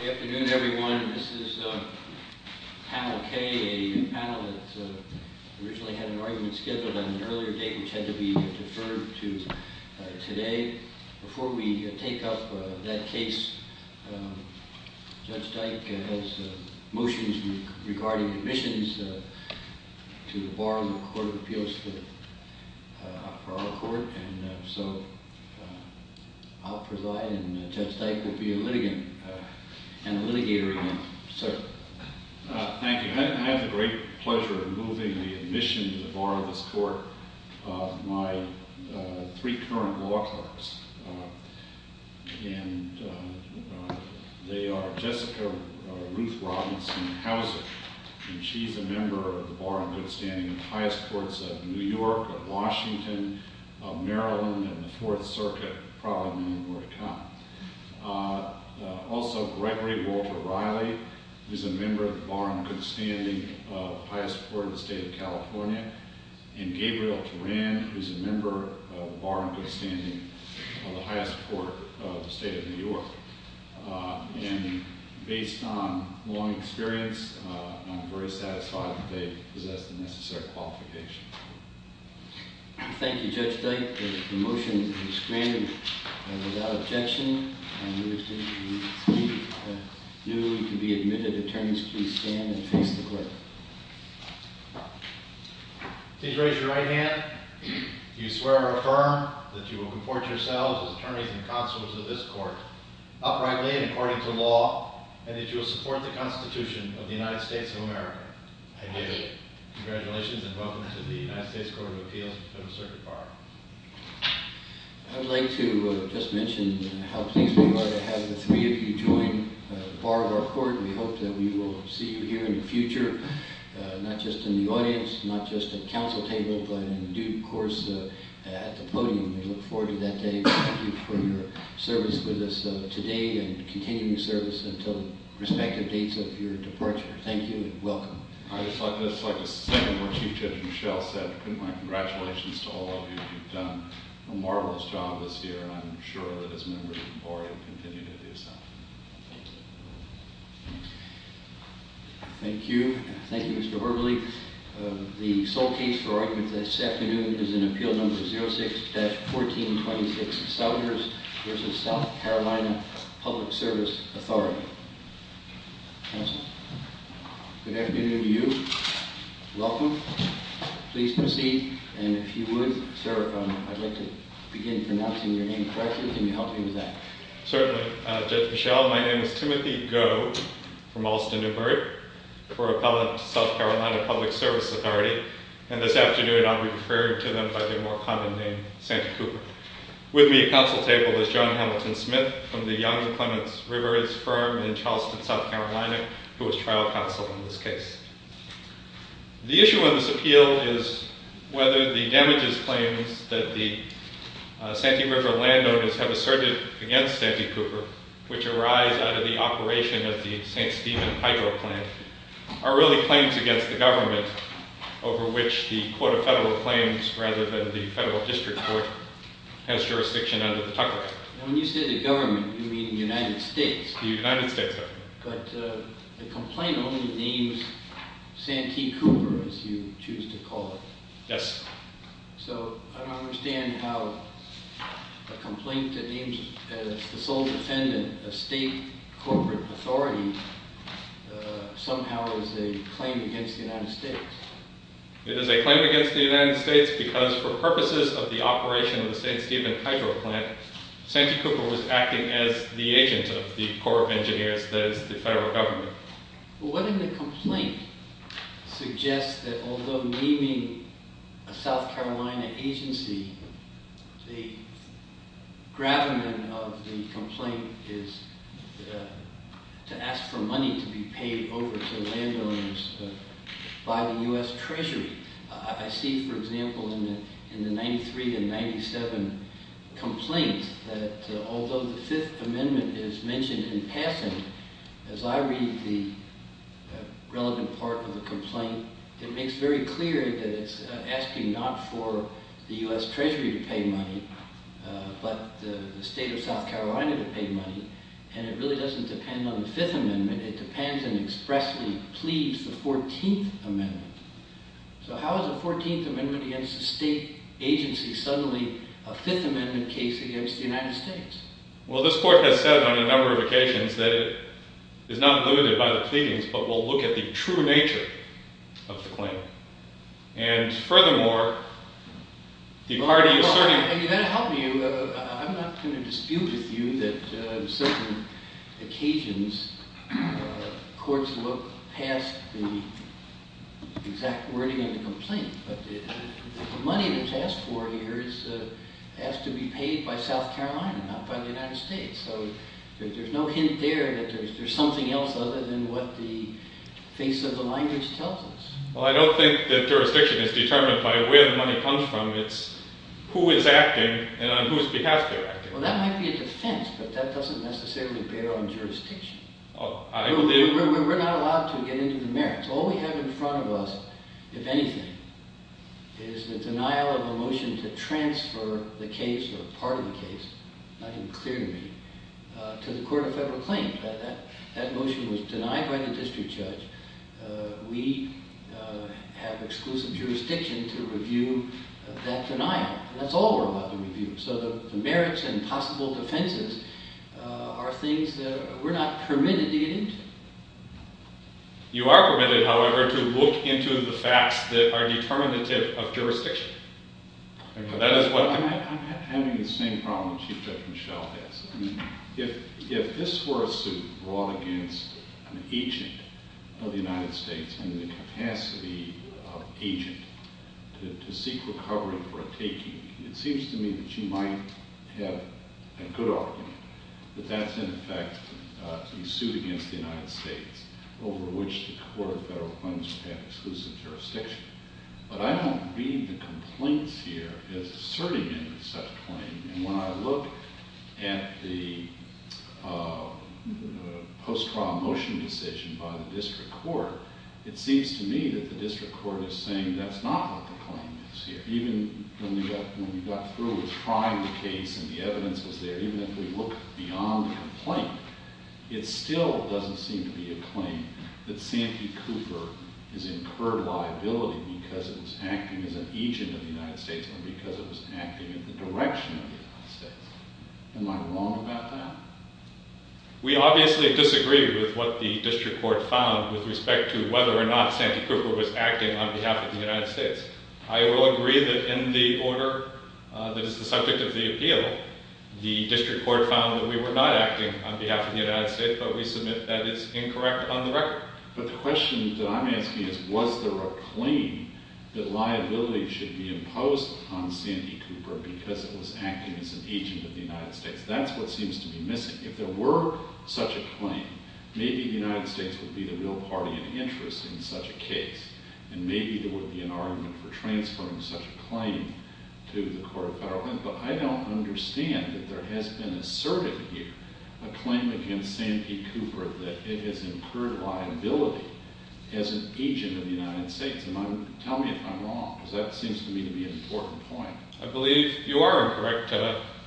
Good afternoon everyone. This is panel K, a panel that originally had an argument scheduled on an earlier date which had to be deferred to today. Before we take up that case, Judge Dyke has motions regarding admissions to the Bar of the Court of Appeals for our court and so I'll preside and Judge Dyke will be a litigant and a litigator again. Sir. Thank you. I have the great pleasure of moving the admission to the Bar of this court of my three current law clerks and they are Jessica Ruth Robinson Houser and she's a member of the Bar of Good Standing of the highest courts of New York, of Washington, of Maryland, and the Fourth Circuit, probably many more to come. Also Gregory Walter Riley, who's a member of the Bar of Good Standing of the highest court in the state of California, and Gabriel Teran, who's a member of the Bar of Good Standing of the highest court of the state of New York. And based on long experience, I'm very satisfied that they possess the necessary qualifications. Thank you, Judge Dyke. The motion is granted without objection. Newly to be admitted attorneys, please stand and face the court. Please raise your right hand if you swear or affirm that you will comport yourselves as attorneys and consulates of this court, uprightly and according to law, and that you will support the Constitution of the United States of America. I do. Congratulations and welcome to the United States Court of Appeals for the Fifth Circuit Bar. I'd like to just mention how pleased we are to have the three of you join the Bar of our court. We hope that we will see you here in the future, not just in the audience, not just at council tables, but in due course at the podium. We look forward to that day. Thank you for your service with us today and continuing service until the respective dates of your departure. Thank you and welcome. I'd just like to second what Chief Judge Michelle said. My congratulations to all of you. You've done a marvelous job this year and I'm sure that as members of the Board, you'll continue to do so. Thank you. Thank you, Mr. Berberle. The sole case for argument this afternoon is in Appeal No. 06-1426, Southerners v. South Carolina Public Service Authority. Good afternoon to you. Welcome. Please proceed and if you would, sir, if I'd like to begin pronouncing your name correctly, can you help me with that? Certainly. Judge Michelle, my name is Timothy Goh from Alston-Newbert for Appellant South Carolina Public Service Authority, and this afternoon I'll be referring to them by their more common name, Santa Cooper. With me at council table is John Hamilton Smith from the Young and Clements Rivers firm in Charleston, South Carolina, who is trial counsel in this case. The issue of this appeal is whether the damages claims that the Santee River landowners have asserted against Santa Cooper, which arise out of the operation of the St. Stephen hydro plant, are really claims against the government over which the Court of Federal Claims rather than the Federal District Court has jurisdiction under the Tucker Act. When you say the government, you mean the United States? The United States, sir. But the complaint only names Santee Cooper, as you choose to call it. Yes. So I don't understand how a complaint that names the sole defendant a state corporate authority somehow is a claim against the United States. It is a claim against the United States because for purposes of the operation of the St. Stephen hydro plant, Santee Cooper was acting as the agent of the Corps of Engineers, that is, the federal government. Well, what if the complaint suggests that although naming a South Carolina agency, the gravamen of the complaint is to ask for money to be paid over to landowners by the U.S. Treasury? I see, for example, in the 93 and 97 complaints that although the Fifth Amendment is mentioned in passing, as I read the relevant part of the complaint, it makes very clear that it's asking not for the U.S. Treasury to pay money but the state of South Carolina to pay money. And it really doesn't depend on the Fifth Amendment. It depends and expressly pleads the Fourteenth Amendment. So how is the Fourteenth Amendment against a state agency suddenly a Fifth Amendment case against the United States? Well, this Court has said on a number of occasions that it is not limited by the pleadings but will look at the true nature of the claim. And furthermore, the party asserting… I mean, that'll help you. I'm not going to dispute with you that on certain occasions courts look past the exact wording of the complaint. But the money that's asked for here has to be paid by South Carolina, not by the United States. So there's no hint there that there's something else other than what the face of the language tells us. Well, I don't think that jurisdiction is determined by where the money comes from. It's who is acting and on whose behalf they're acting. Well, that might be a defense, but that doesn't necessarily bear on jurisdiction. We're not allowed to get into the merits. All we have in front of us, if anything, is the denial of a motion to transfer the case or part of the case, not in clear reading, to the Court of Federal Claims. If that motion was denied by the district judge, we have exclusive jurisdiction to review that denial. That's all we're allowed to review. So the merits and possible defenses are things that we're not permitted to get into. You are permitted, however, to look into the facts that are determinative of jurisdiction. That is what… Well, I'm having the same problem Chief Justice Michel has. I mean, if this were a suit brought against an agent of the United States and the capacity of agent to seek recovery for a taking, it seems to me that you might have a good argument that that's, in effect, a suit against the United States over which the Court of Federal Claims would have exclusive jurisdiction. But I don't read the complaints here as asserting any such claim. And when I look at the post-trial motion decision by the district court, it seems to me that the district court is saying that's not what the claim is here. Even when we got through with trying the case and the evidence was there, even if we look beyond the complaint, it still doesn't seem to be a claim that Santee Cooper is incurred liability because it was acting as an agent of the United States or because it was acting in the direction of the United States. Am I wrong about that? We obviously disagree with what the district court found with respect to whether or not Santee Cooper was acting on behalf of the United States. I will agree that in the order that is the subject of the appeal, the district court found that we were not acting on behalf of the United States, but we submit that is incorrect on the record. But the question that I'm asking is, was there a claim that liability should be imposed on Santee Cooper because it was acting as an agent of the United States? That's what seems to be missing. If there were such a claim, maybe the United States would be the real party in interest in such a case. And maybe there would be an argument for transferring such a claim to the court of federalism. But I don't understand that there has been asserted here a claim against Santee Cooper that it has incurred liability as an agent of the United States. And tell me if I'm wrong, because that seems to me to be an important point. I believe you are incorrect,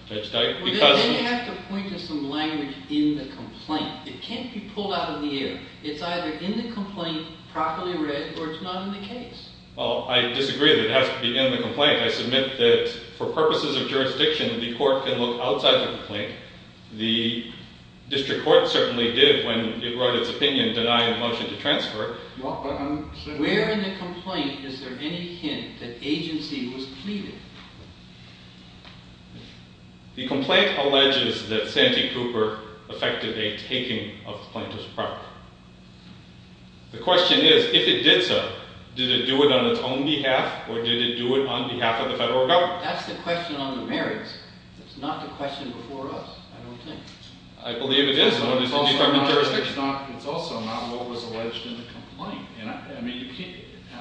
Judge Dike. Well, then you have to point to some language in the complaint. It can't be pulled out of the air. It's either in the complaint, properly read, or it's not in the case. Well, I disagree that it has to be in the complaint. I submit that for purposes of jurisdiction, the court can look outside the complaint. The district court certainly did when it wrote its opinion denying the motion to transfer. Where in the complaint is there any hint that agency was pleading? The complaint alleges that Santee Cooper effected a taking of plaintiff's property. The question is, if it did so, did it do it on its own behalf, or did it do it on behalf of the federal government? That's the question on the merits. It's not the question before us, I don't think. I believe it is. It's also not what was alleged in the complaint.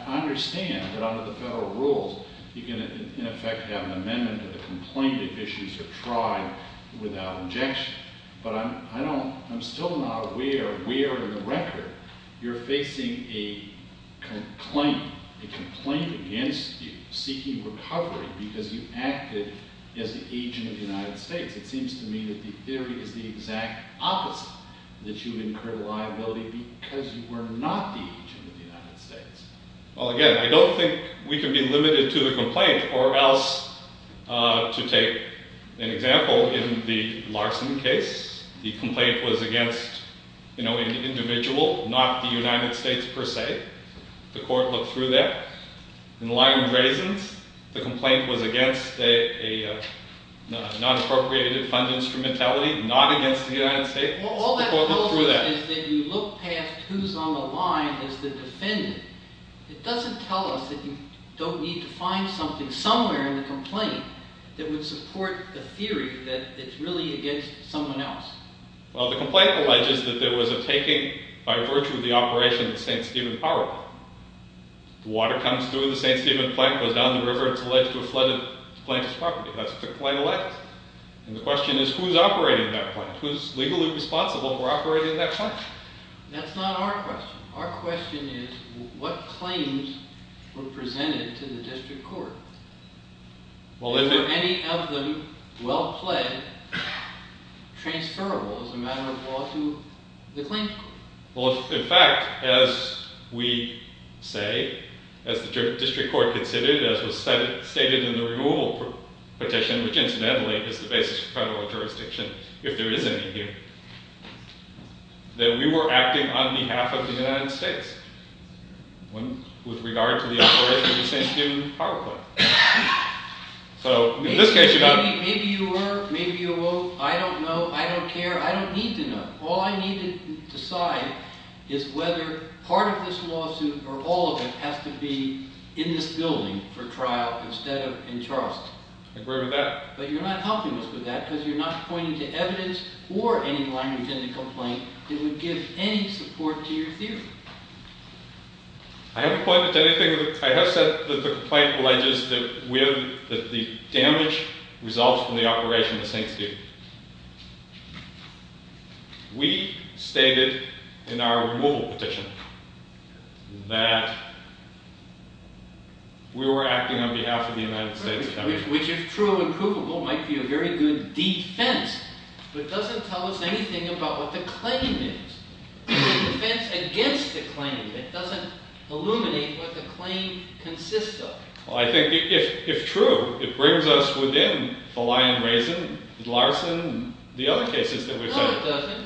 I understand that under the federal rules, you can in effect have an amendment to the complaint if issues are tried without injection. But I'm still not aware where in the record you're facing a complaint against you seeking recovery because you acted as the agent of the United States. It seems to me that the theory is the exact opposite, that you've incurred liability because you were not the agent of the United States. Well, again, I don't think we can be limited to the complaint, or else to take an example, in the Larson case, the complaint was against an individual, not the United States per se. The court looked through that. In Lyon-Brazens, the complaint was against a non-appropriated fund instrumentality, not against the United States. All that tells us is that if you look past who's on the line as the defendant, it doesn't tell us that you don't need to find something somewhere in the complaint that would support the theory that it's really against someone else. Well, the complaint alleges that there was a taking by virtue of the operation of the St. Stephen power plant. The water comes through the St. Stephen plant, goes down the river, and it's alleged to have flooded the plant's property. That's what the complaint alleges. And the question is, who's operating that plant? Who's legally responsible for operating that plant? That's not our question. Our question is, what claims were presented to the district court? Were any of them well pled, transferable as a matter of law to the claims court? Well, in fact, as we say, as the district court considered, as was stated in the removal petition, which incidentally is the basis of federal jurisdiction, if there is any here, that we were acting on behalf of the United States with regard to the operation of the St. Stephen power plant. Maybe you were, maybe you won't. I don't know. I don't care. I don't need to know. All I need to decide is whether part of this lawsuit or all of it has to be in this building for trial instead of in Charleston. I agree with that. But you're not helping us with that because you're not pointing to evidence or any language in the complaint that would give any support to your theory. I haven't pointed to anything. I have said that the complaint alleges that the damage results from the operation of the St. Stephen. We stated in our removal petition that we were acting on behalf of the United States of America. Which is true and provable might be a very good defense, but it doesn't tell us anything about what the claim is. It's a defense against the claim. It doesn't illuminate what the claim consists of. Well, I think if true, it brings us within the Lyon-Rayson, Larson, and the other cases that we've said. No, it doesn't.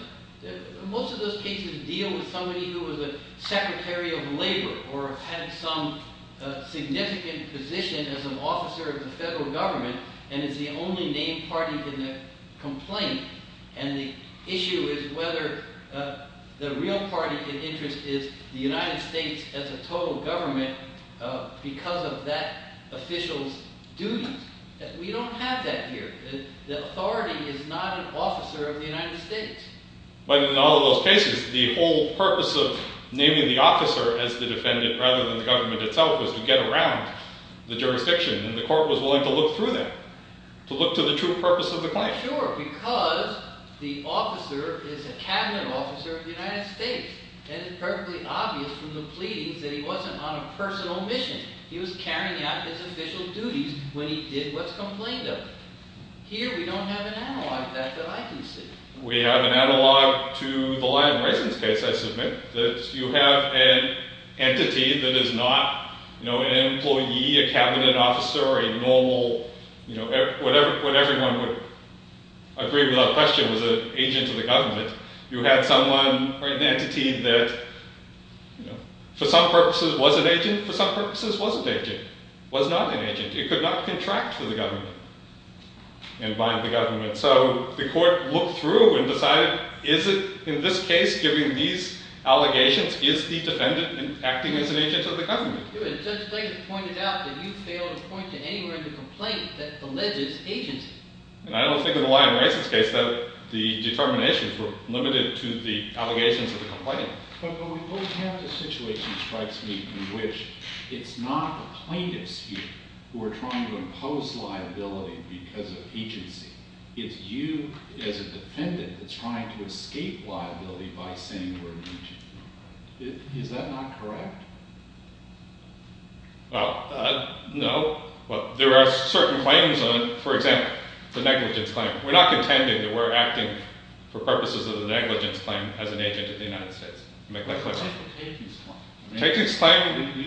Most of those cases deal with somebody who was a secretary of labor or had some significant position as an officer of the federal government and is the only named party in the complaint. And the issue is whether the real party of interest is the United States as a total government because of that official's duties. We don't have that here. The authority is not an officer of the United States. But in all of those cases, the whole purpose of naming the officer as the defendant rather than the government itself was to get around the jurisdiction and the court was willing to look through that. To look to the true purpose of the claim. Sure, because the officer is a cabinet officer of the United States. And it's perfectly obvious from the pleadings that he wasn't on a personal mission. He was carrying out his official duties when he did what's complained of him. Here, we don't have an analog of that that I can see. We have an analog to the Lyon-Rayson case, I submit. You have an entity that is not an employee, a cabinet officer, or a normal – what everyone would agree without question was an agent of the government. You had someone or an entity that for some purposes was an agent, for some purposes wasn't an agent, was not an agent. It could not contract with the government and bind the government. So the court looked through and decided is it in this case, given these allegations, is the defendant acting as an agent of the government? It was just later pointed out that you failed to point to anywhere in the complaint that alleges agency. And I don't think in the Lyon-Rayson case that the determinations were limited to the allegations of the complaint. But we both have the situation strikes me in which it's not the plaintiffs here who are trying to impose liability because of agency. It's you as a defendant that's trying to escape liability by saying we're an agent of the government. Is that not correct? Well, no. There are certain claims on, for example, the negligence claim. We're not contending that we're acting for purposes of the negligence claim as an agent of the United States. Can I clarify? You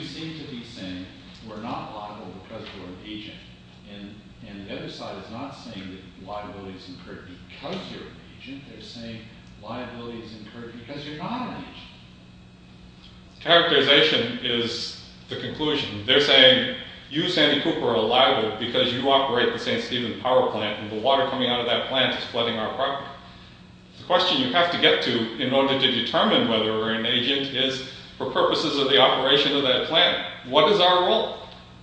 seem to be saying we're not liable because we're an agent. And the other side is not saying that liability is incurred because you're an agent. They're saying liability is incurred because you're not an agent. Characterization is the conclusion. They're saying you, Sandy Cooper, are liable because you operate the St. Stephen power plant and the water coming out of that plant is flooding our property. The question you have to get to in order to determine whether we're an agent is for purposes of the operation of that plant. What is our role?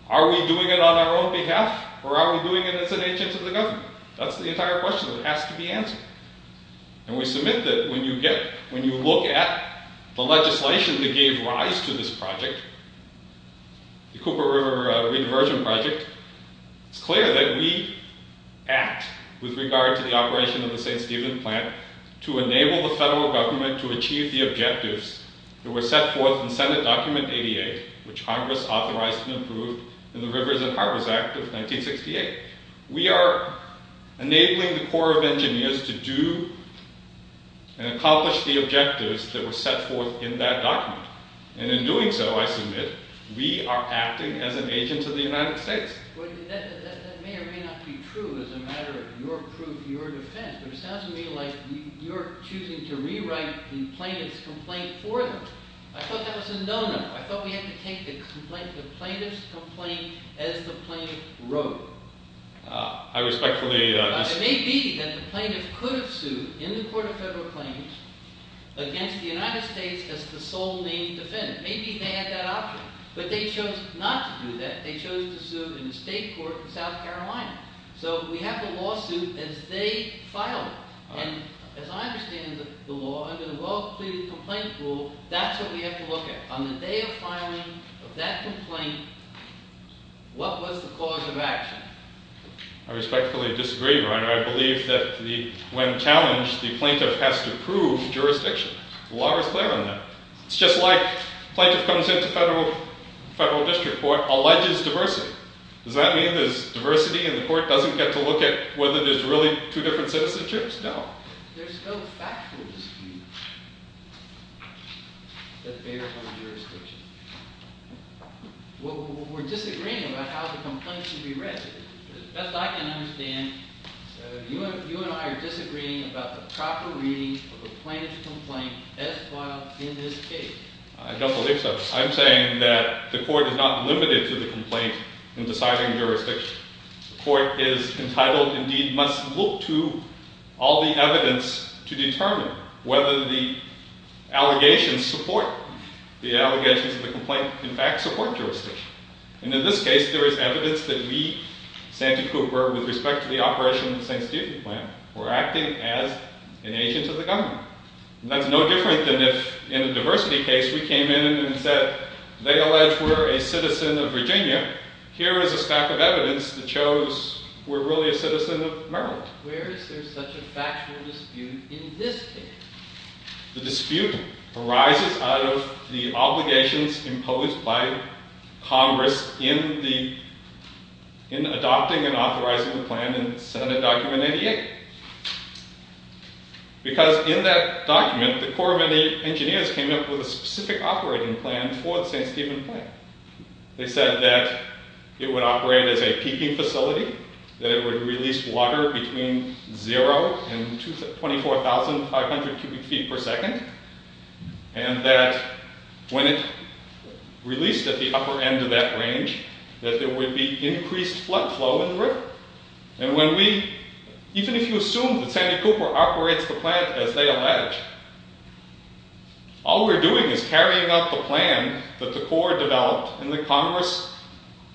Are we doing it on our own behalf or are we doing it as an agent of the government? That's the entire question that has to be answered. And we submit that when you look at the legislation that gave rise to this project, the Cooper River Rediversion Project, it's clear that we act with regard to the operation of the St. Stephen plant to enable the federal government to achieve the objectives that were set forth in Senate Document 88, which Congress authorized and approved in the Rivers and Harbors Act of 1968. We are enabling the Corps of Engineers to do and accomplish the objectives that were set forth in that document. And in doing so, I submit, we are acting as an agent of the United States. That may or may not be true as a matter of your proof, your defense. It sounds to me like you're choosing to rewrite the plaintiff's complaint for them. I thought that was a no-no. I thought we had to take the plaintiff's complaint as the plaintiff wrote it. It may be that the plaintiff could have sued in the Court of Federal Claims against the United States as the sole named defendant. Maybe they had that option, but they chose not to do that. They chose to sue in the state court in South Carolina. So we have a lawsuit as they filed it. And as I understand the law, under the well-completed complaint rule, that's what we have to look at. On the day of filing of that complaint, what was the cause of action? I respectfully disagree, Your Honor. I believe that when challenged, the plaintiff has to prove jurisdiction. The law is clear on that. It's just like the plaintiff comes into federal district court, alleges diversity. Does that mean there's diversity and the court doesn't get to look at whether there's really two different citizenships? No. There's no factual dispute that bears on jurisdiction. We're disagreeing about how the complaint should be read. But as best I can understand, you and I are disagreeing about the proper reading of a plaintiff's complaint as filed in this case. I don't believe so. I'm saying that the court is not limited to the complaint in deciding jurisdiction. The court is entitled, indeed, must look to all the evidence to determine whether the allegations support the allegations of the complaint, in fact, support jurisdiction. And in this case, there is evidence that we, Sandy Cooper, with respect to the operation of the St. Stephen plan, were acting as an agent of the government. And that's no different than if, in a diversity case, we came in and said, they allege we're a citizen of Virginia. Here is a stack of evidence that shows we're really a citizen of Maryland. Where is there such a factual dispute in this case? The dispute arises out of the obligations imposed by Congress in adopting and authorizing the plan in Senate Document 88. Because in that document, the Corps of Engineers came up with a specific operating plan for the St. Stephen plan. They said that it would operate as a peaking facility, that it would release water between 0 and 24,500 cubic feet per second, and that when it released at the upper end of that range, that there would be increased flood flow in the river. And when we, even if you assume that Sandy Cooper operates the plant as they allege, all we're doing is carrying out the plan that the Corps developed and that Congress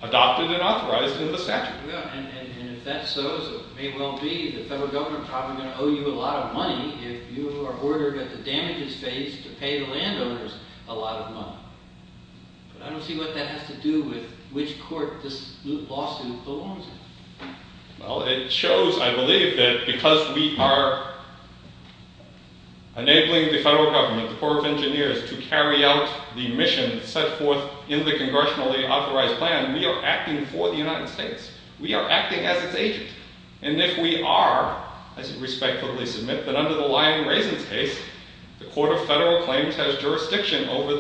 adopted and authorized in the statute. And if that's so, as it may well be, the federal government is probably going to owe you a lot of money if you are ordered at the damages phase to pay the landowners a lot of money. But I don't see what that has to do with which court this lawsuit belongs in. Well, it shows, I believe, that because we are enabling the federal government, the Corps of Engineers, to carry out the mission set forth in the congressionally authorized plan, we are acting for the United States. We are acting as its agent. And if we are, I should respectfully submit, that under the Lyon-Raisins case, the Court of Federal Claims has jurisdiction over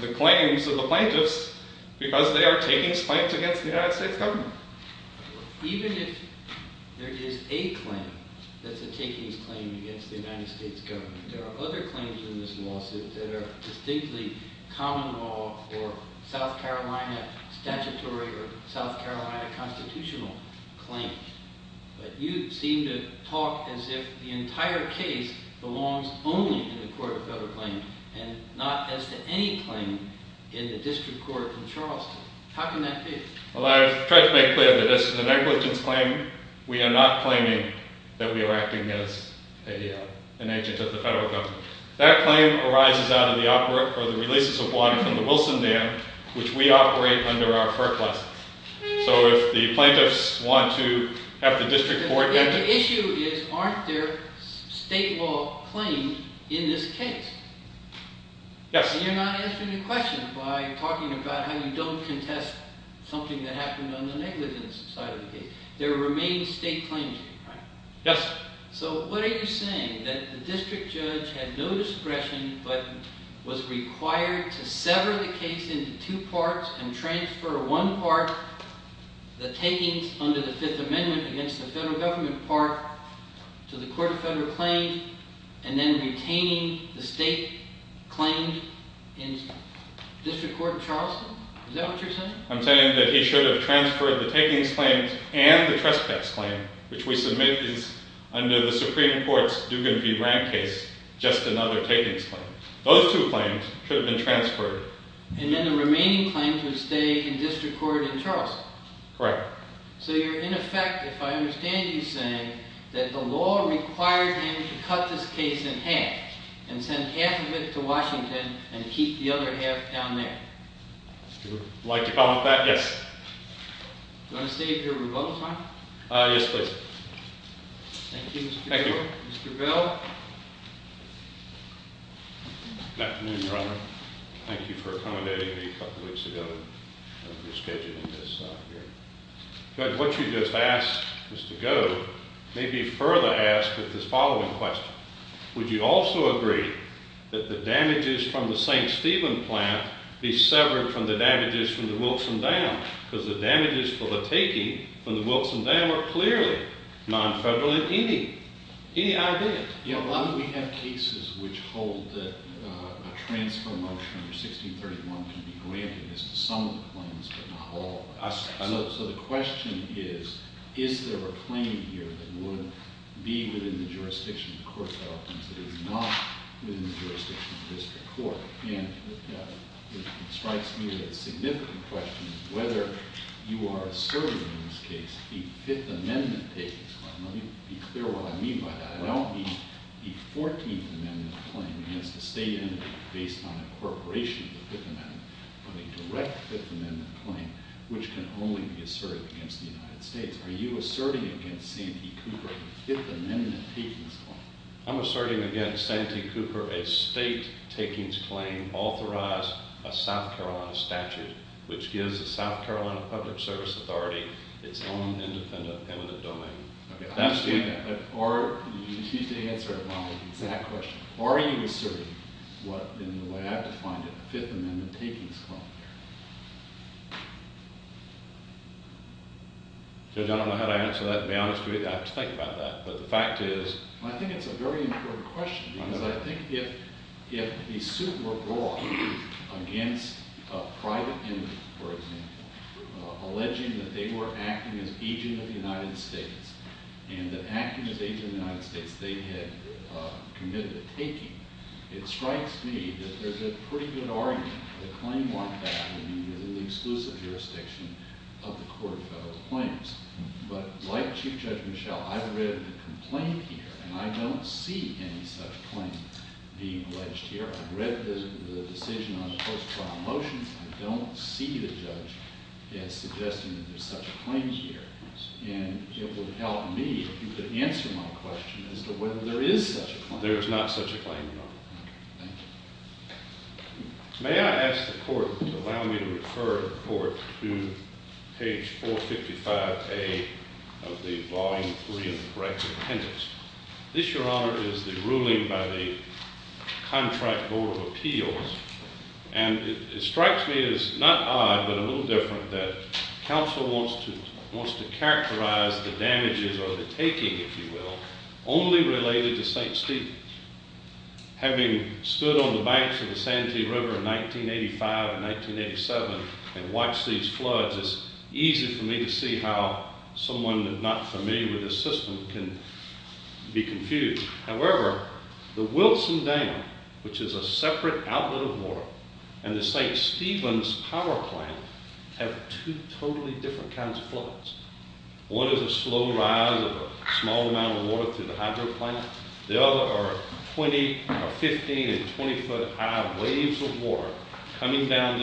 the claims of the plaintiffs because they are takings claims against the United States government. Even if there is a claim that's a takings claim against the United States government, there are other claims in this lawsuit that are distinctly common law or South Carolina statutory or South Carolina constitutional claims. But you seem to talk as if the entire case belongs only in the Court of Federal Claims and not as to any claim in the district court in Charleston. How can that be? Well, I've tried to make clear that this is an negligence claim. We are not claiming that we are acting as an agent of the federal government. That claim arises out of the releases of water from the Wilson Dam, which we operate under our first lessons. So if the plaintiffs want to have the district court... The issue is aren't there state law claims in this case? Yes. And you're not answering the question by talking about how you don't contest something that happened on the negligence side of the case. There remain state claims. Yes. So what are you saying? That the district judge had no discretion but was required to sever the case into two parts and transfer one part, the takings under the Fifth Amendment against the federal government part, to the Court of Federal Claims and then retaining the state claim in district court in Charleston? Is that what you're saying? I'm saying that he should have transferred the takings claims and the trespass claim, which we submit is under the Supreme Court's Dugan v. Rand case, just another takings claim. Those two claims should have been transferred. And then the remaining claims would stay in district court in Charleston. Correct. So you're, in effect, if I understand you saying, that the law required him to cut this case in half and send half of it to Washington and keep the other half down there. Would you like to comment on that? Yes. Do you want to stay at your remote time? Yes, please. Thank you, Mr. Taylor. Thank you. Mr. Bell. Good afternoon, Your Honor. Thank you for coming to me a couple of weeks ago and rescheduling this hearing. What you just asked, Mr. Goad, may be further asked with this following question. Would you also agree that the damages from the St. Stephen plant be severed from the damages from the Wilson Dam? Because the damages for the taking from the Wilson Dam are clearly non-federal in any idea. You know, we have cases which hold that a transfer motion under 1631 can be granted as to some of the claims, but not all. I see. So the question is, is there a claim here that would be within the jurisdiction of the court that often is not within the jurisdiction of the district court? And it strikes me that the significant question is whether you are asserting in this case the Fifth Amendment case. Let me be clear what I mean by that. Well, the 14th Amendment claim against the state entity based on incorporation of the Fifth Amendment from a direct Fifth Amendment claim, which can only be asserted against the United States. Are you asserting against Santee Cooper a Fifth Amendment takings claim? I'm asserting against Santee Cooper a state takings claim authorized by South Carolina statute, which gives the South Carolina Public Service Authority its own independent eminent domain. Okay, I understand that. But are – excuse me to answer my exact question. Are you asserting in the way I've defined it a Fifth Amendment takings claim? I don't know how to answer that and be honest with you. I have to think about that. But the fact is – I think it's a very important question. Because I think if a suit were brought against a private entity, for example, alleging that they were acting as agent of the United States and that acting as agent of the United States they had committed a taking, it strikes me that there's a pretty good argument that a claim like that would be within the exclusive jurisdiction of the court of federal claims. But like Chief Judge Michel, I've read the complaint here and I don't see any such claim being alleged here. I've read the decision on the first trial motion. I don't see the judge suggesting that there's such a claim here. And it would help me if you could answer my question as to whether there is such a claim. There is not such a claim, Your Honor. Okay, thank you. May I ask the court to allow me to refer the court to page 455A of the Volume 3 of the corrective appendix? This, Your Honor, is the ruling by the Contract Board of Appeals. And it strikes me as not odd but a little different that counsel wants to characterize the damages or the taking, if you will, only related to St. Stephen's. Having stood on the banks of the Santee River in 1985 and 1987 and watched these floods, it's easy for me to see how someone not familiar with this system can be confused. However, the Wilson Dam, which is a separate outlet of water, and the St. Stephen's Power Plant have two totally different kinds of floods. One is a slow rise of a small amount of water through the hydro plant. The other are 15- and 20-foot-high waves of water coming down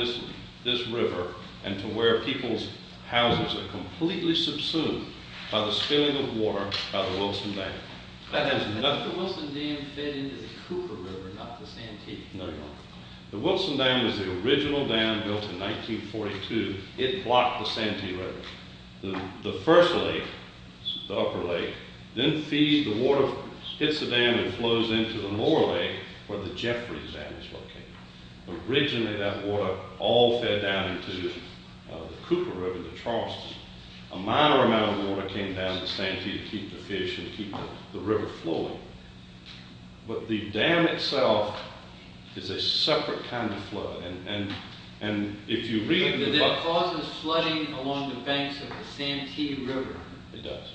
this river and to where people's houses are completely subsumed by the spilling of water by the Wilson Dam. Has the Wilson Dam fed into the Cooper River, not the Santee? No, Your Honor. The Wilson Dam was the original dam built in 1942. It blocked the Santee River. The first lake, the upper lake, then feeds the water, hits the dam and flows into the lower lake where the Jeffrey Dam is located. Originally, that water all fed down into the Cooper River, the Charles River. A minor amount of water came down the Santee to keep the fish and keep the river flowing. But the dam itself is a separate kind of flood. It causes flooding along the banks of the Santee River. It does.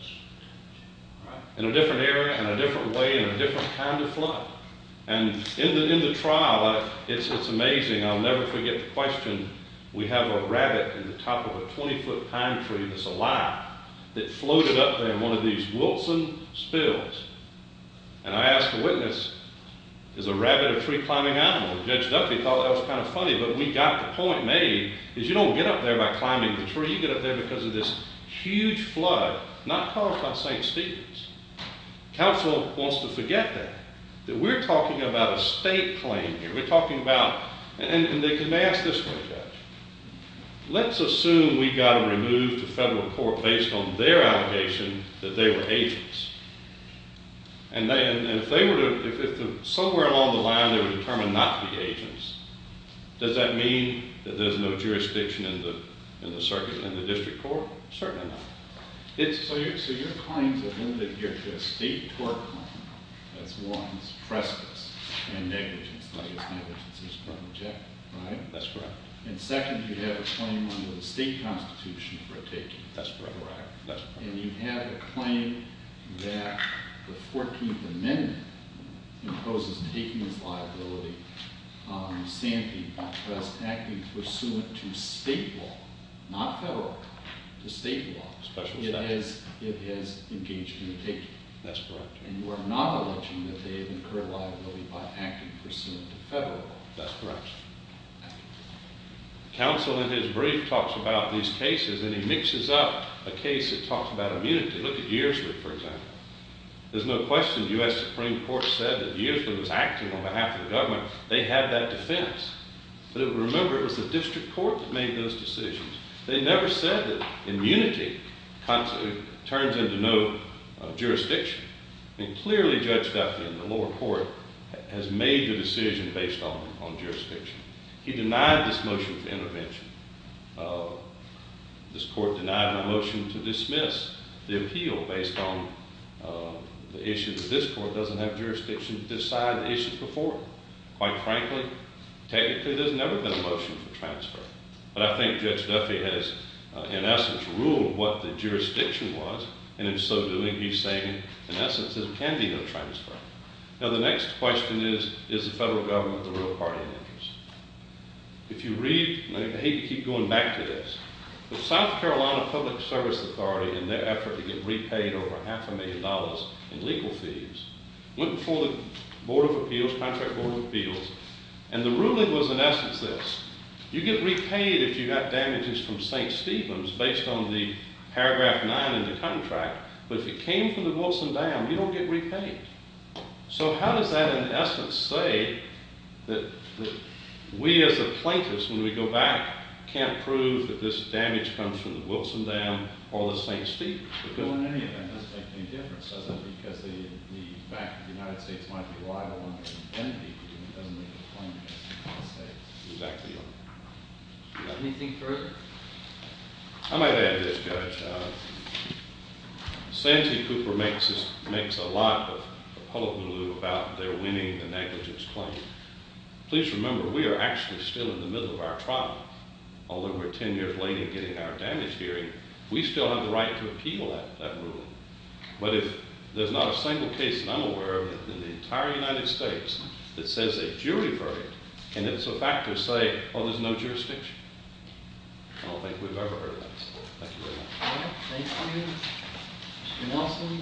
In a different area, in a different way, in a different kind of flood. In the trial, it's amazing. I'll never forget the question. We have a rabbit at the top of a 20-foot pine tree that's alive that floated up there in one of these Wilson spills. I asked the witness, is a rabbit a tree-climbing animal? Judge Duffy thought that was kind of funny, but we got the point made. You don't get up there by climbing the tree. You get up there because of this huge flood, not caused by St. Stephen's. Counsel wants to forget that. We're talking about a state claim here. We're talking about—and they asked this one, Judge. Let's assume we got them removed to federal court based on their allegation that they were agents. If somewhere along the line they were determined not to be agents, does that mean that there's no jurisdiction in the district court? Certainly not. So your claims are limited here to a state court claim. That's one. It's trespass and negligence. Negligence is part of the check, right? That's correct. And second, you have a claim under the state constitution for a taking. That's correct. That's correct. And you have a claim that the 14th Amendment imposes taking as liability on Santee because acting pursuant to state law, not federal, to state law— Special section. —it has engaged in the taking. That's correct. And you are not alleging that they have incurred liability by acting pursuant to federal law. That's correct. Counsel, in his brief, talks about these cases, and he mixes up a case that talks about immunity. Look at Yearsley, for example. There's no question the U.S. Supreme Court said that Yearsley was acting on behalf of the government. They had that defense. But remember, it was the district court that made those decisions. They never said that immunity turns into no jurisdiction. Clearly, Judge Duffy in the lower court has made the decision based on jurisdiction. He denied this motion for intervention. This court denied my motion to dismiss the appeal based on the issue that this court doesn't have jurisdiction to decide the issue before it. Quite frankly, technically, there's never been a motion for transfer. But I think Judge Duffy has, in essence, ruled what the jurisdiction was, and in so doing, he's saying, in essence, there can be no transfer. Now, the next question is, is the federal government the real party in interest? If you read—and I hate to keep going back to this— the South Carolina Public Service Authority, in their effort to get repaid over half a million dollars in legal fees, went before the board of appeals, contract board of appeals, and the ruling was, in essence, this. You get repaid if you got damages from St. Stephens based on the paragraph 9 in the contract, but if it came from the Wilson Dam, you don't get repaid. So how does that, in essence, say that we as a plaintiff, when we go back, can't prove that this damage comes from the Wilson Dam or the St. Stephens? It doesn't make any difference, does it? Because the fact that the United States might be liable under an amnesty doesn't make a claim against the United States. Exactly right. Anything further? I might add this, Judge. Santee Cooper makes a lot of hullabaloo about their winning the negligence claim. Please remember, we are actually still in the middle of our trial. Although we're 10 years late in getting our damage hearing, we still have the right to appeal that ruling. But if there's not a single case that I'm aware of in the entire United States that says they jury-verdict, can ifso factors say, oh, there's no jurisdiction? I don't think we've ever heard that before. Thank you very much. Thank you. Mr. Nelson?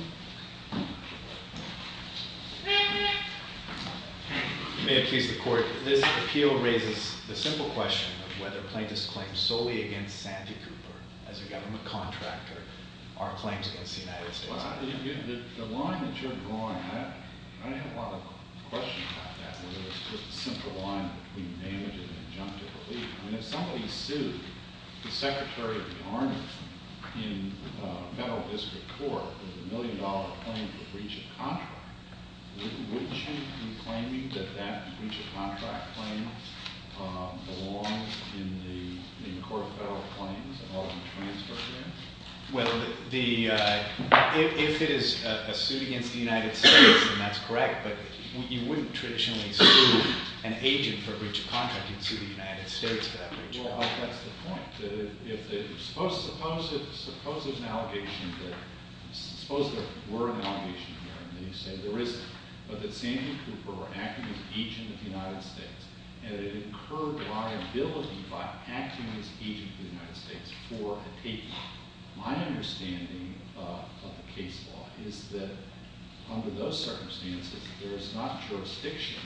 You may appease the court. This appeal raises the simple question of whether plaintiffs' claims solely against Santee Cooper as a government contractor are claims against the United States. Well, the line that you're drawing, I have a lot of questions about that, whether it's just a simple line between damage and injunctive relief. I mean, if somebody sued the Secretary of the Army in federal district court with a million-dollar claim for breach of contract, wouldn't you be claiming that that breach of contract claim belongs in the court of federal claims and ought to be transferred there? Well, if it is a suit against the United States, then that's correct. But you wouldn't traditionally sue an agent for breach of contract. You'd sue the United States for that breach of contract. Well, that's the point. Suppose there were an allegation here, and then you say there isn't, but that Santee Cooper were acting as an agent of the United States, and it incurred liability by acting as an agent of the United States for a case. My understanding of the case law is that under those circumstances, there is not jurisdiction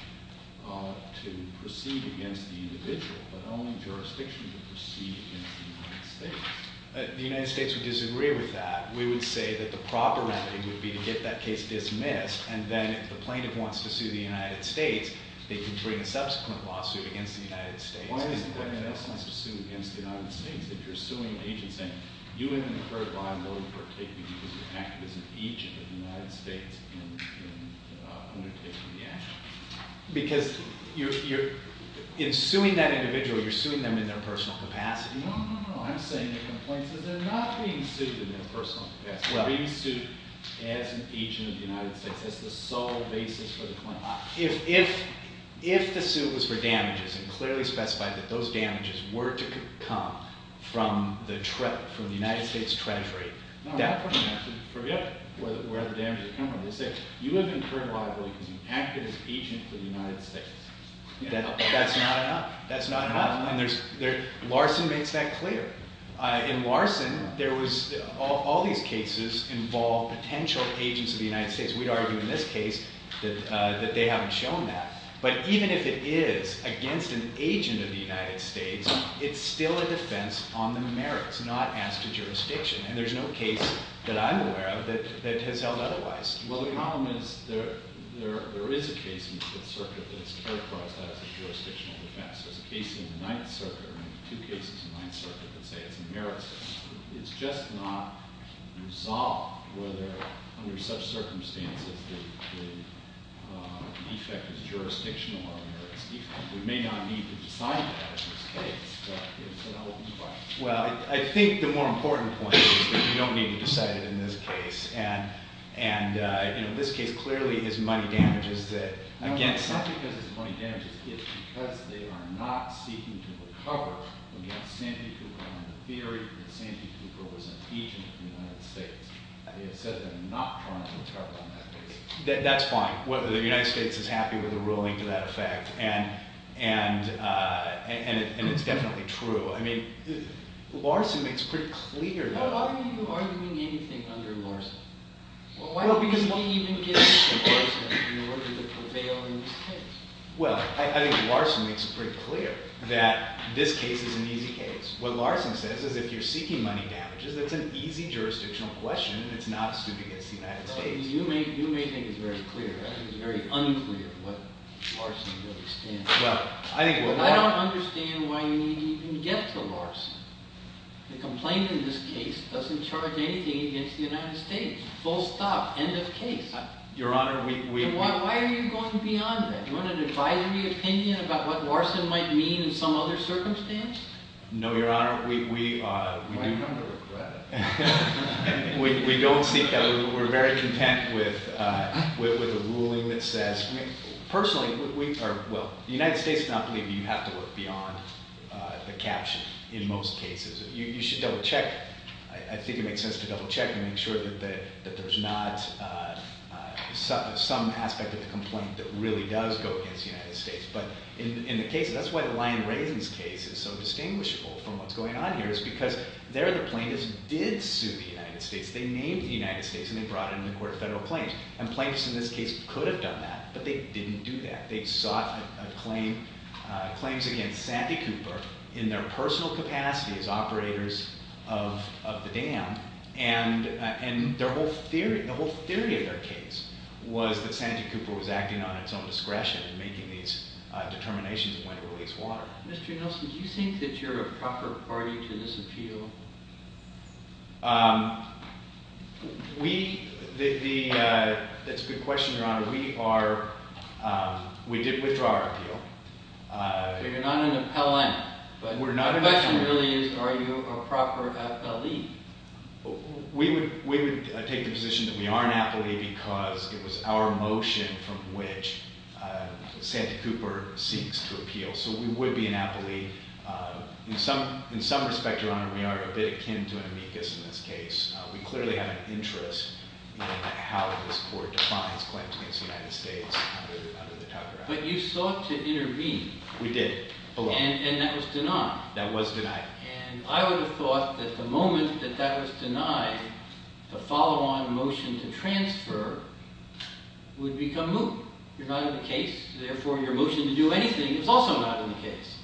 to proceed against the individual, but only jurisdiction to proceed against the United States. The United States would disagree with that. We would say that the proper remedy would be to get that case dismissed, and then if the plaintiff wants to sue the United States, they can bring a subsequent lawsuit against the United States. Why is the plaintiff not supposed to sue against the United States if you're suing an agent saying, you incurred liability for taking an act as an agent of the United States in undertaking the action? Because in suing that individual, you're suing them in their personal capacity. No, no, no. I'm saying the complaint says they're not being sued in their personal capacity. They're being sued as an agent of the United States. That's the sole basis for the complaint. If the suit was for damages and clearly specified that those damages were to come from the United States Treasury, that would be where the damages would come from. They'll say, you have incurred liability because you acted as an agent for the United States. That's not enough. That's not enough. And Larson makes that clear. In Larson, all these cases involve potential agents of the United States. We'd argue in this case that they haven't shown that. But even if it is against an agent of the United States, it's still a defense on the merits, not as to jurisdiction. And there's no case that I'm aware of that has held otherwise. Well, the problem is there is a case in the Fifth Circuit that's characterized as a jurisdictional defense. There's a case in the Ninth Circuit, or maybe two cases in the Ninth Circuit, that say it's a merits defense. It's just not resolved whether, under such circumstances, the defect is jurisdictional or a merits defect. We may not need to decide that in this case, but it's an open question. Well, I think the more important point is that you don't need to decide it in this case. And, you know, in this case, clearly it's money damages that, again— Well, it's not because it's money damages. It's because they are not seeking to recover from the authenticity of the theory that Sanford Cooper was an agent of the United States. They have said they're not trying to recover on that case. That's fine. The United States is happy with a ruling to that effect, and it's definitely true. I mean, Larson makes it pretty clear that— Why are you arguing anything under Larson? Well, why do you need to even get to Larson in order to prevail in this case? Well, I think Larson makes it pretty clear that this case is an easy case. What Larson says is if you're seeking money damages, that's an easy jurisdictional question, and it's not a suit against the United States. You may think it's very clear. I think it's very unclear what Larson really stands for. Well, I think what Larson— I don't understand why you need to even get to Larson. The complaint in this case doesn't charge anything against the United States. Full stop. End of case. Your Honor, we— Why are you going beyond that? Do you want an advisory opinion about what Larson might mean in some other circumstance? No, Your Honor, we— Well, you're going to regret it. We don't seek—we're very content with a ruling that says— Well, the United States does not believe you have to look beyond the caption in most cases. You should double-check. I think it makes sense to double-check and make sure that there's not some aspect of the complaint that really does go against the United States. But in the case—that's why the Lion-Raising case is so distinguishable from what's going on here, is because there the plaintiffs did sue the United States. They named the United States, and they brought it into court a federal plaintiff. And plaintiffs in this case could have done that, but they didn't do that. They sought a claim—claims against Sandy Cooper in their personal capacity as operators of the dam. And their whole theory—the whole theory of their case was that Sandy Cooper was acting on its own discretion and making these determinations when to release water. Mr. Nelson, do you think that you're a proper party to this appeal? We—the—that's a good question, Your Honor. We are—we did withdraw our appeal. So you're not an appellant. We're not an appellant. But the question really is, are you a proper appellee? We would take the position that we are an appellee because it was our motion from which Sandy Cooper seeks to appeal. So we would be an appellee. In some—in some respect, Your Honor, we are a bit akin to an amicus in this case. We clearly have an interest in how this court defines claims against the United States under the Tucker Act. But you sought to intervene. We did. And that was denied. That was denied. And I would have thought that the moment that that was denied, the follow-on motion to transfer would become moot. You're not in the case. Therefore, your motion to do anything is also not in the case.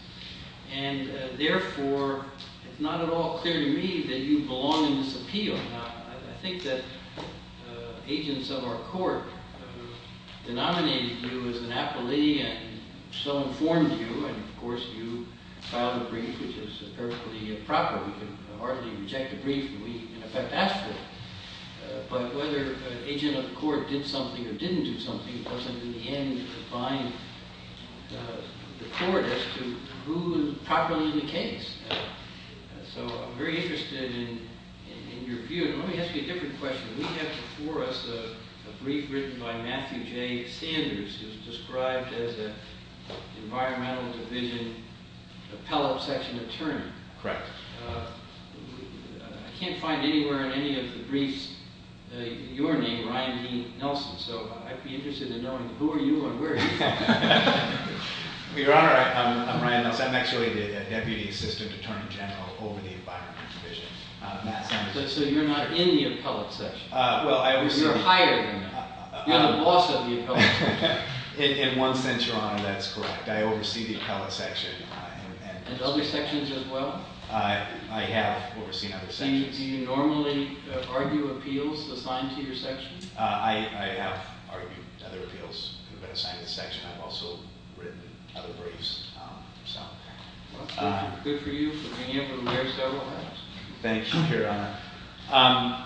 And, therefore, it's not at all clear to me that you belong in this appeal. Now, I think that agents of our court denominated you as an appellee and so informed you. And, of course, you filed a brief, which is empirically improper. We could hardly reject a brief, and we, in effect, asked for it. But whether an agent of the court did something or didn't do something doesn't, in the end, define the court as to who is properly in the case. So I'm very interested in your view. And let me ask you a different question. We have before us a brief written by Matthew J. Sanders, who's described as an environmental division appellate section attorney. Correct. I can't find anywhere in any of the briefs your name, Ryan D. Nelson. So I'd be interested in knowing who are you and where are you from. Your Honor, I'm Ryan Nelson. I'm actually the deputy assistant attorney general over the environment division. So you're not in the appellate section. You're hired in it. You're the boss of the appellate section. In one sense, Your Honor, that's correct. I oversee the appellate section. And other sections as well? I have overseen other sections. Do you normally argue appeals assigned to your section? I have argued other appeals that have been assigned to this section. I've also written other briefs. Good for you for being able to wear several hats. Thank you, Your Honor.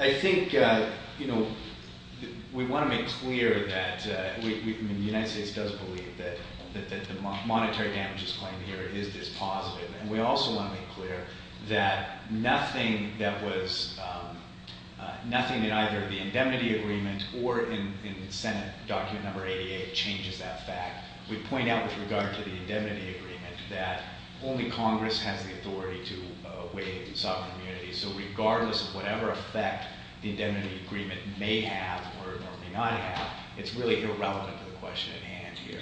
I think, you know, we want to make clear that the United States does believe that the monetary damages claim here is dispositive. And we also want to make clear that nothing that either the indemnity agreement or in the Senate document number 88 changes that fact. We point out with regard to the indemnity agreement that only Congress has the authority to waive sovereign immunity. So regardless of whatever effect the indemnity agreement may have or may not have, it's really irrelevant to the question at hand here.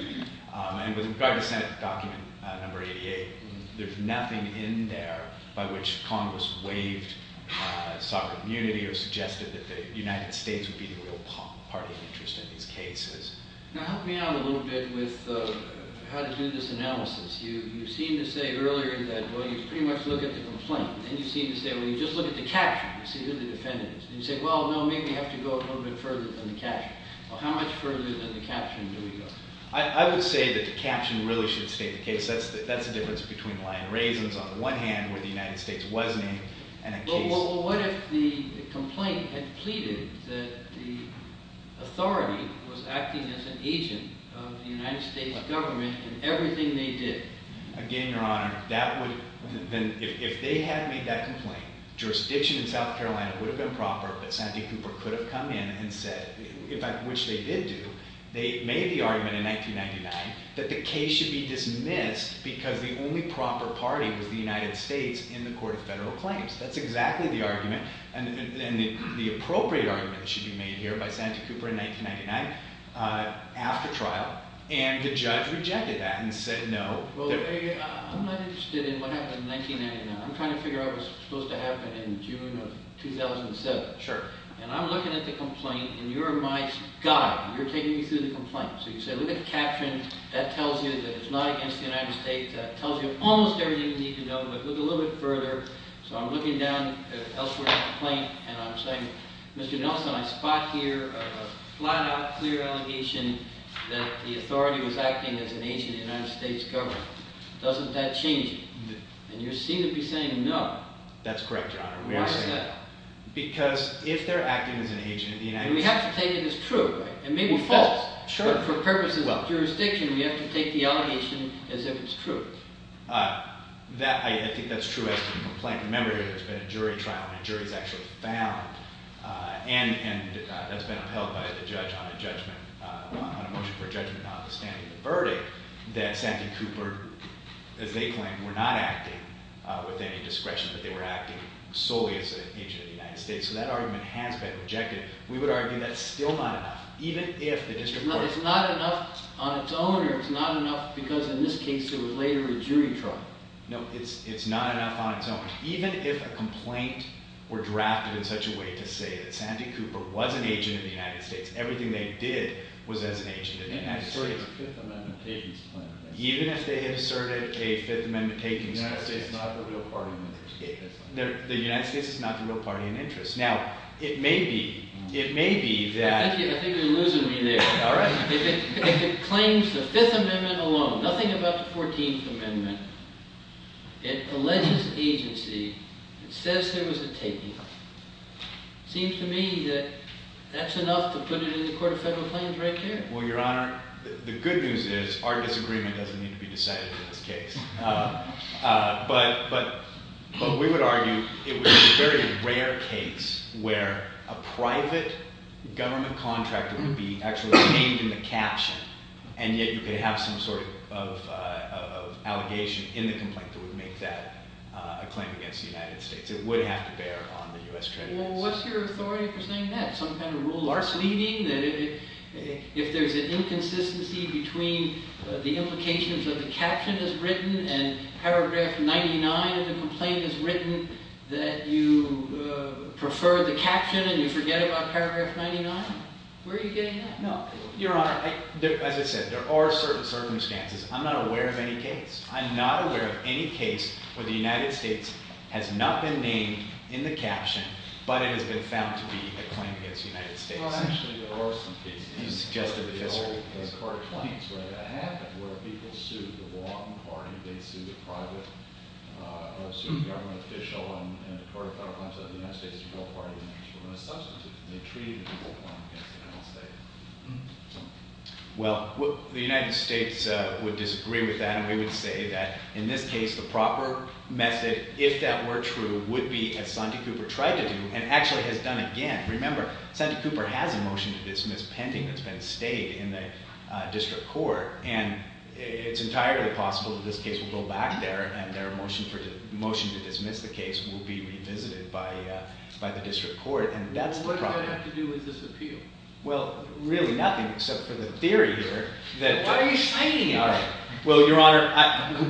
And with regard to Senate document number 88, there's nothing in there by which Congress waived sovereign immunity or suggested that the United States would be the real party of interest in these cases. Now help me out a little bit with how to do this analysis. You seemed to say earlier that, well, you pretty much look at the complaint. And you seem to say, well, you just look at the caption to see who the defendant is. And you say, well, no, maybe you have to go a little bit further than the caption. Well, how much further than the caption do we go? I would say that the caption really should state the case. That's the difference between lying raisins on the one hand where the United States was named and a case. So what if the complaint had pleaded that the authority was acting as an agent of the United States government in everything they did? Again, Your Honor, if they had made that complaint, jurisdiction in South Carolina would have been proper. But Sandy Cooper could have come in and said, which they did do, they made the argument in 1999 that the case should be dismissed because the only proper party was the United States in the court of federal claims. That's exactly the argument. And the appropriate argument should be made here by Sandy Cooper in 1999 after trial. And the judge rejected that and said no. Well, I'm not interested in what happened in 1999. I'm trying to figure out what's supposed to happen in June of 2007. Sure. And I'm looking at the complaint, and you're my guide. You're taking me through the complaint. So you say, look at the caption. That tells you that it's not against the United States. That tells you almost everything you need to know. But look a little bit further. So I'm looking down at elsewhere in the complaint, and I'm saying, Mr. Nelson, I spot here a flat-out clear allegation that the authority was acting as an agent of the United States government. Doesn't that change it? And you seem to be saying no. That's correct, Your Honor. Why is that? Because if they're acting as an agent of the United States. We have to take it as true, right? And maybe false. Sure. But for purposes of jurisdiction, we have to take the allegation as if it's true. I think that's true as to the complaint. Remember, there's been a jury trial, and a jury's actually found. And that's been upheld by the judge on a motion for judgment notwithstanding the verdict. That Sandy Cooper, as they claim, were not acting with any discretion. But they were acting solely as an agent of the United States. So that argument has been rejected. We would argue that's still not enough. No, it's not enough on its own, or it's not enough because, in this case, it was later a jury trial. No, it's not enough on its own. Even if a complaint were drafted in such a way to say that Sandy Cooper was an agent of the United States, everything they did was as an agent of the United States. Even if they asserted a Fifth Amendment takings claim. Even if they asserted a Fifth Amendment takings claim. The United States is not the real party in interest. The United States is not the real party in interest. Now, it may be that… I think you're losing me there. All right. If it claims the Fifth Amendment alone, nothing about the Fourteenth Amendment, it alleges agency, it says there was a taking. It seems to me that that's enough to put it in the Court of Federal Claims right there. Well, Your Honor, the good news is our disagreement doesn't need to be decided in this case. But we would argue it would be a very rare case where a private government contractor would be actually named in the caption, and yet you could have some sort of allegation in the complaint that would make that a claim against the United States. It would have to bear on the U.S. trade laws. Well, what's your authority for saying that? That if there's an inconsistency between the implications of the caption as written and paragraph 99 of the complaint as written, that you prefer the caption and you forget about paragraph 99? Where are you getting that? No. Your Honor, as I said, there are certain circumstances. I'm not aware of any case. I'm not aware of any case where the United States has not been named in the caption, but it has been found to be a claim against the United States. Well, actually, there are some cases. You suggested, Officer. In the old Court of Claims, right? That happened where people sued the wrong party. They sued a private or sued a government official, and the Court of Federal Claims said the United States is a real party. And, as a substantive, they treated it as a real claim against the United States. Well, the United States would disagree with that, and we would say that, in this case, the proper method, if that were true, would be as Santee Cooper tried to do and actually has done again. Remember, Santee Cooper has a motion to dismiss pending that's been stayed in the district court, and it's entirely possible that this case will go back there and their motion to dismiss the case will be revisited by the district court. And that's the problem. What do I have to do with this appeal? Well, really nothing except for the theory here that… What are you saying? All right. Well, Your Honor,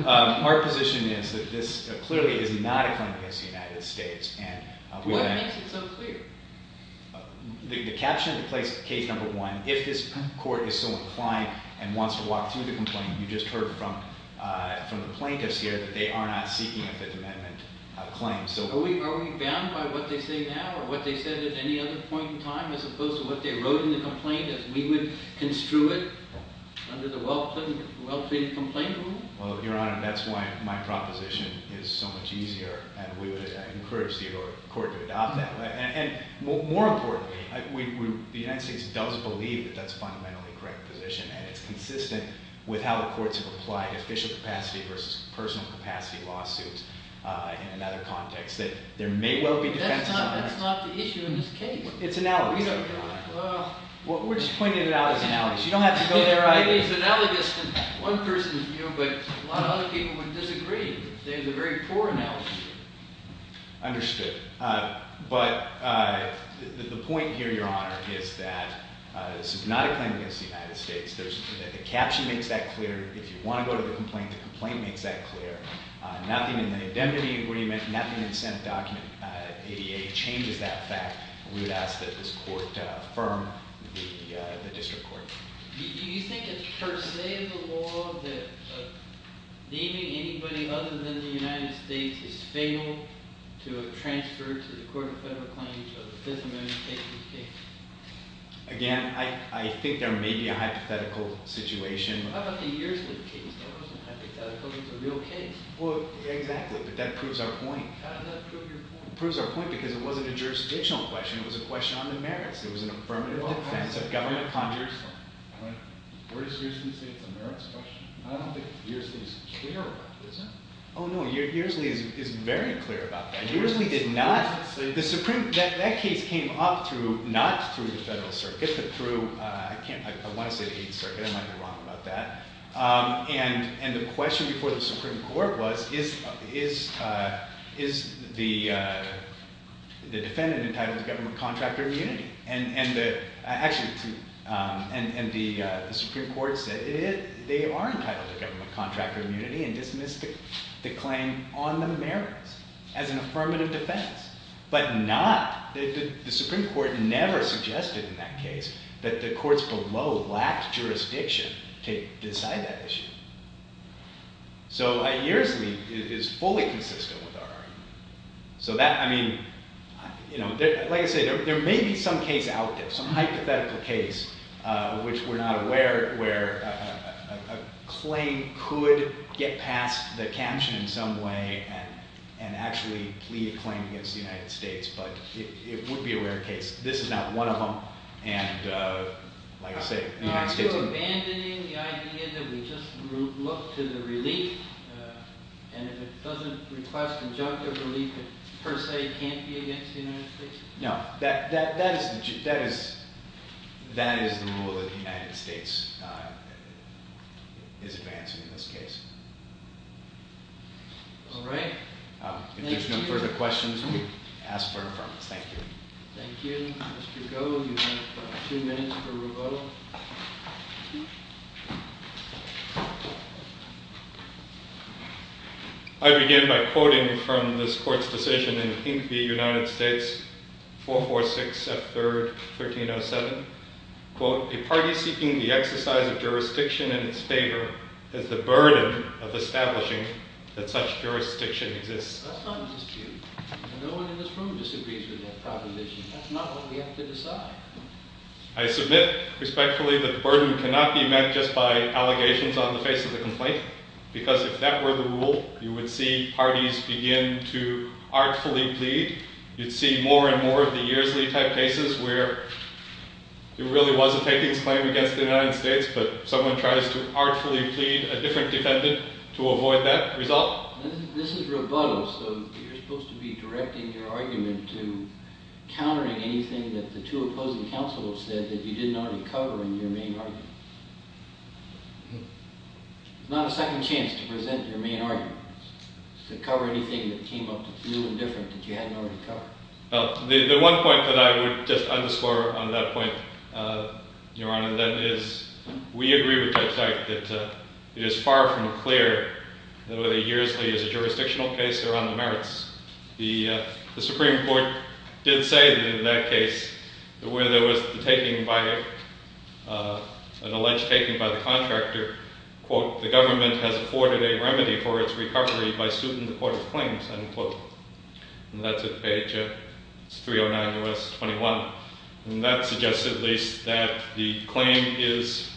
our position is that this clearly is not a claim against the United States, and… What makes it so clear? The caption of the case number one, if this court is so inclined and wants to walk through the complaint, you just heard from the plaintiffs here that they are not seeking a Fifth Amendment claim. Are we bound by what they say now or what they said at any other point in time as opposed to what they wrote in the complaint as we would construe it under the well-treated complaint rule? Well, Your Honor, that's why my proposition is so much easier, and we would encourage the court to adopt that. And more importantly, the United States does believe that that's a fundamentally correct position, and it's consistent with how the courts have applied official capacity versus personal capacity lawsuits in another context, that there may well be defenses on that. That's not the issue in this case. It's analogous, Your Honor. Well… We're just pointing it out as analogous. You don't have to go there… Maybe it's analogous to one person's view, but a lot of other people would disagree. It's a very poor analogy. Understood. But the point here, Your Honor, is that this is not a claim against the United States. The caption makes that clear. If you want to go to the complaint, the complaint makes that clear. Nothing in the indemnity agreement, nothing in the Senate document ADA changes that fact. We would ask that this court affirm the district court. Do you think it's per se in the law that naming anybody other than the United States is fatal to a transfer to the Court of Federal Claims of the Fifth Amendment case? Again, I think there may be a hypothetical situation. How about the years of the case? That wasn't hypothetical. It was a real case. Well, exactly, but that proves our point. How does that prove your point? It proves our point because it wasn't a jurisdictional question. It was a question on the merits. It was an affirmative defense of government contractors. Where does Hearsley say it's a merits question? I don't think Hearsley is clear about that, is he? Oh, no. Hearsley is very clear about that. Hearsley did not – the Supreme – that case came up through – not through the Federal Circuit, but through – I can't – I want to say the Eighth Circuit. I might be wrong about that. And the question before the Supreme Court was is the defendant entitled to government contractor immunity? And the – actually, and the Supreme Court said they are entitled to government contractor immunity and dismissed the claim on the merits as an affirmative defense, but not – the Supreme Court never suggested in that case that the courts below lacked jurisdiction to decide that. So Hearsley is fully consistent with our argument. So that – I mean, you know, like I say, there may be some case out there, some hypothetical case, which we're not aware of, where a claim could get past the caption in some way and actually lead a claim against the United States, but it would be a rare case. This is not one of them. And like I say, the United States – Are you abandoning the idea that we just look to the relief and if it doesn't request injunctive relief, it per se can't be against the United States? No. That is – that is the rule that the United States is advancing in this case. All right. If there's no further questions, we ask for affirmative. Thank you. Thank you. Mr. Goh, you have two minutes for rebuttal. I begin by quoting from this court's decision in Pink v. United States, 446 F. 3rd, 1307. Quote, a party seeking the exercise of jurisdiction in its favor has the burden of establishing that such jurisdiction exists. That's not an issue. And no one in this room disagrees with that proposition. That's not what we have to decide. I submit respectfully that the burden cannot be met just by allegations on the face of the complaint, because if that were the rule, you would see parties begin to artfully plead. You'd see more and more of the yearsly type cases where it really was a takings claim against the United States, but someone tries to artfully plead a different defendant to avoid that result. This is rebuttal, so you're supposed to be directing your argument to countering anything that the two opposing counsel have said that you didn't already cover in your main argument. It's not a second chance to present your main argument, to cover anything that came up that's new and different that you hadn't already covered. The one point that I would just underscore on that point, Your Honor, that is we agree with Judge Dyke that it is far from clear that whether a yearsly is a jurisdictional case or on the merits. The Supreme Court did say that in that case, where there was an alleged taking by the contractor, quote, the government has afforded a remedy for its recovery by suiting the court of claims, unquote. And that's at page 309 U.S. 21. And that suggests, at least, that the claim is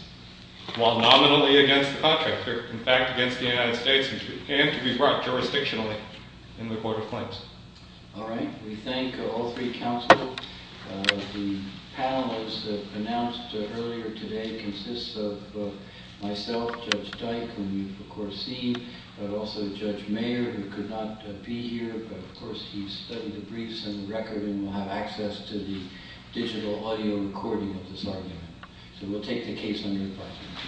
while nominally against the contractor, in fact, against the United States and to be brought jurisdictionally in the court of claims. All right. We thank all three counsel. The panelists that announced earlier today consists of myself, Judge Dyke, whom you've, of course, seen, but also Judge Mayer, who could not be here. But, of course, he studied the briefs and the record and will have access to the digital audio recording of this argument. So we'll take the case on your part.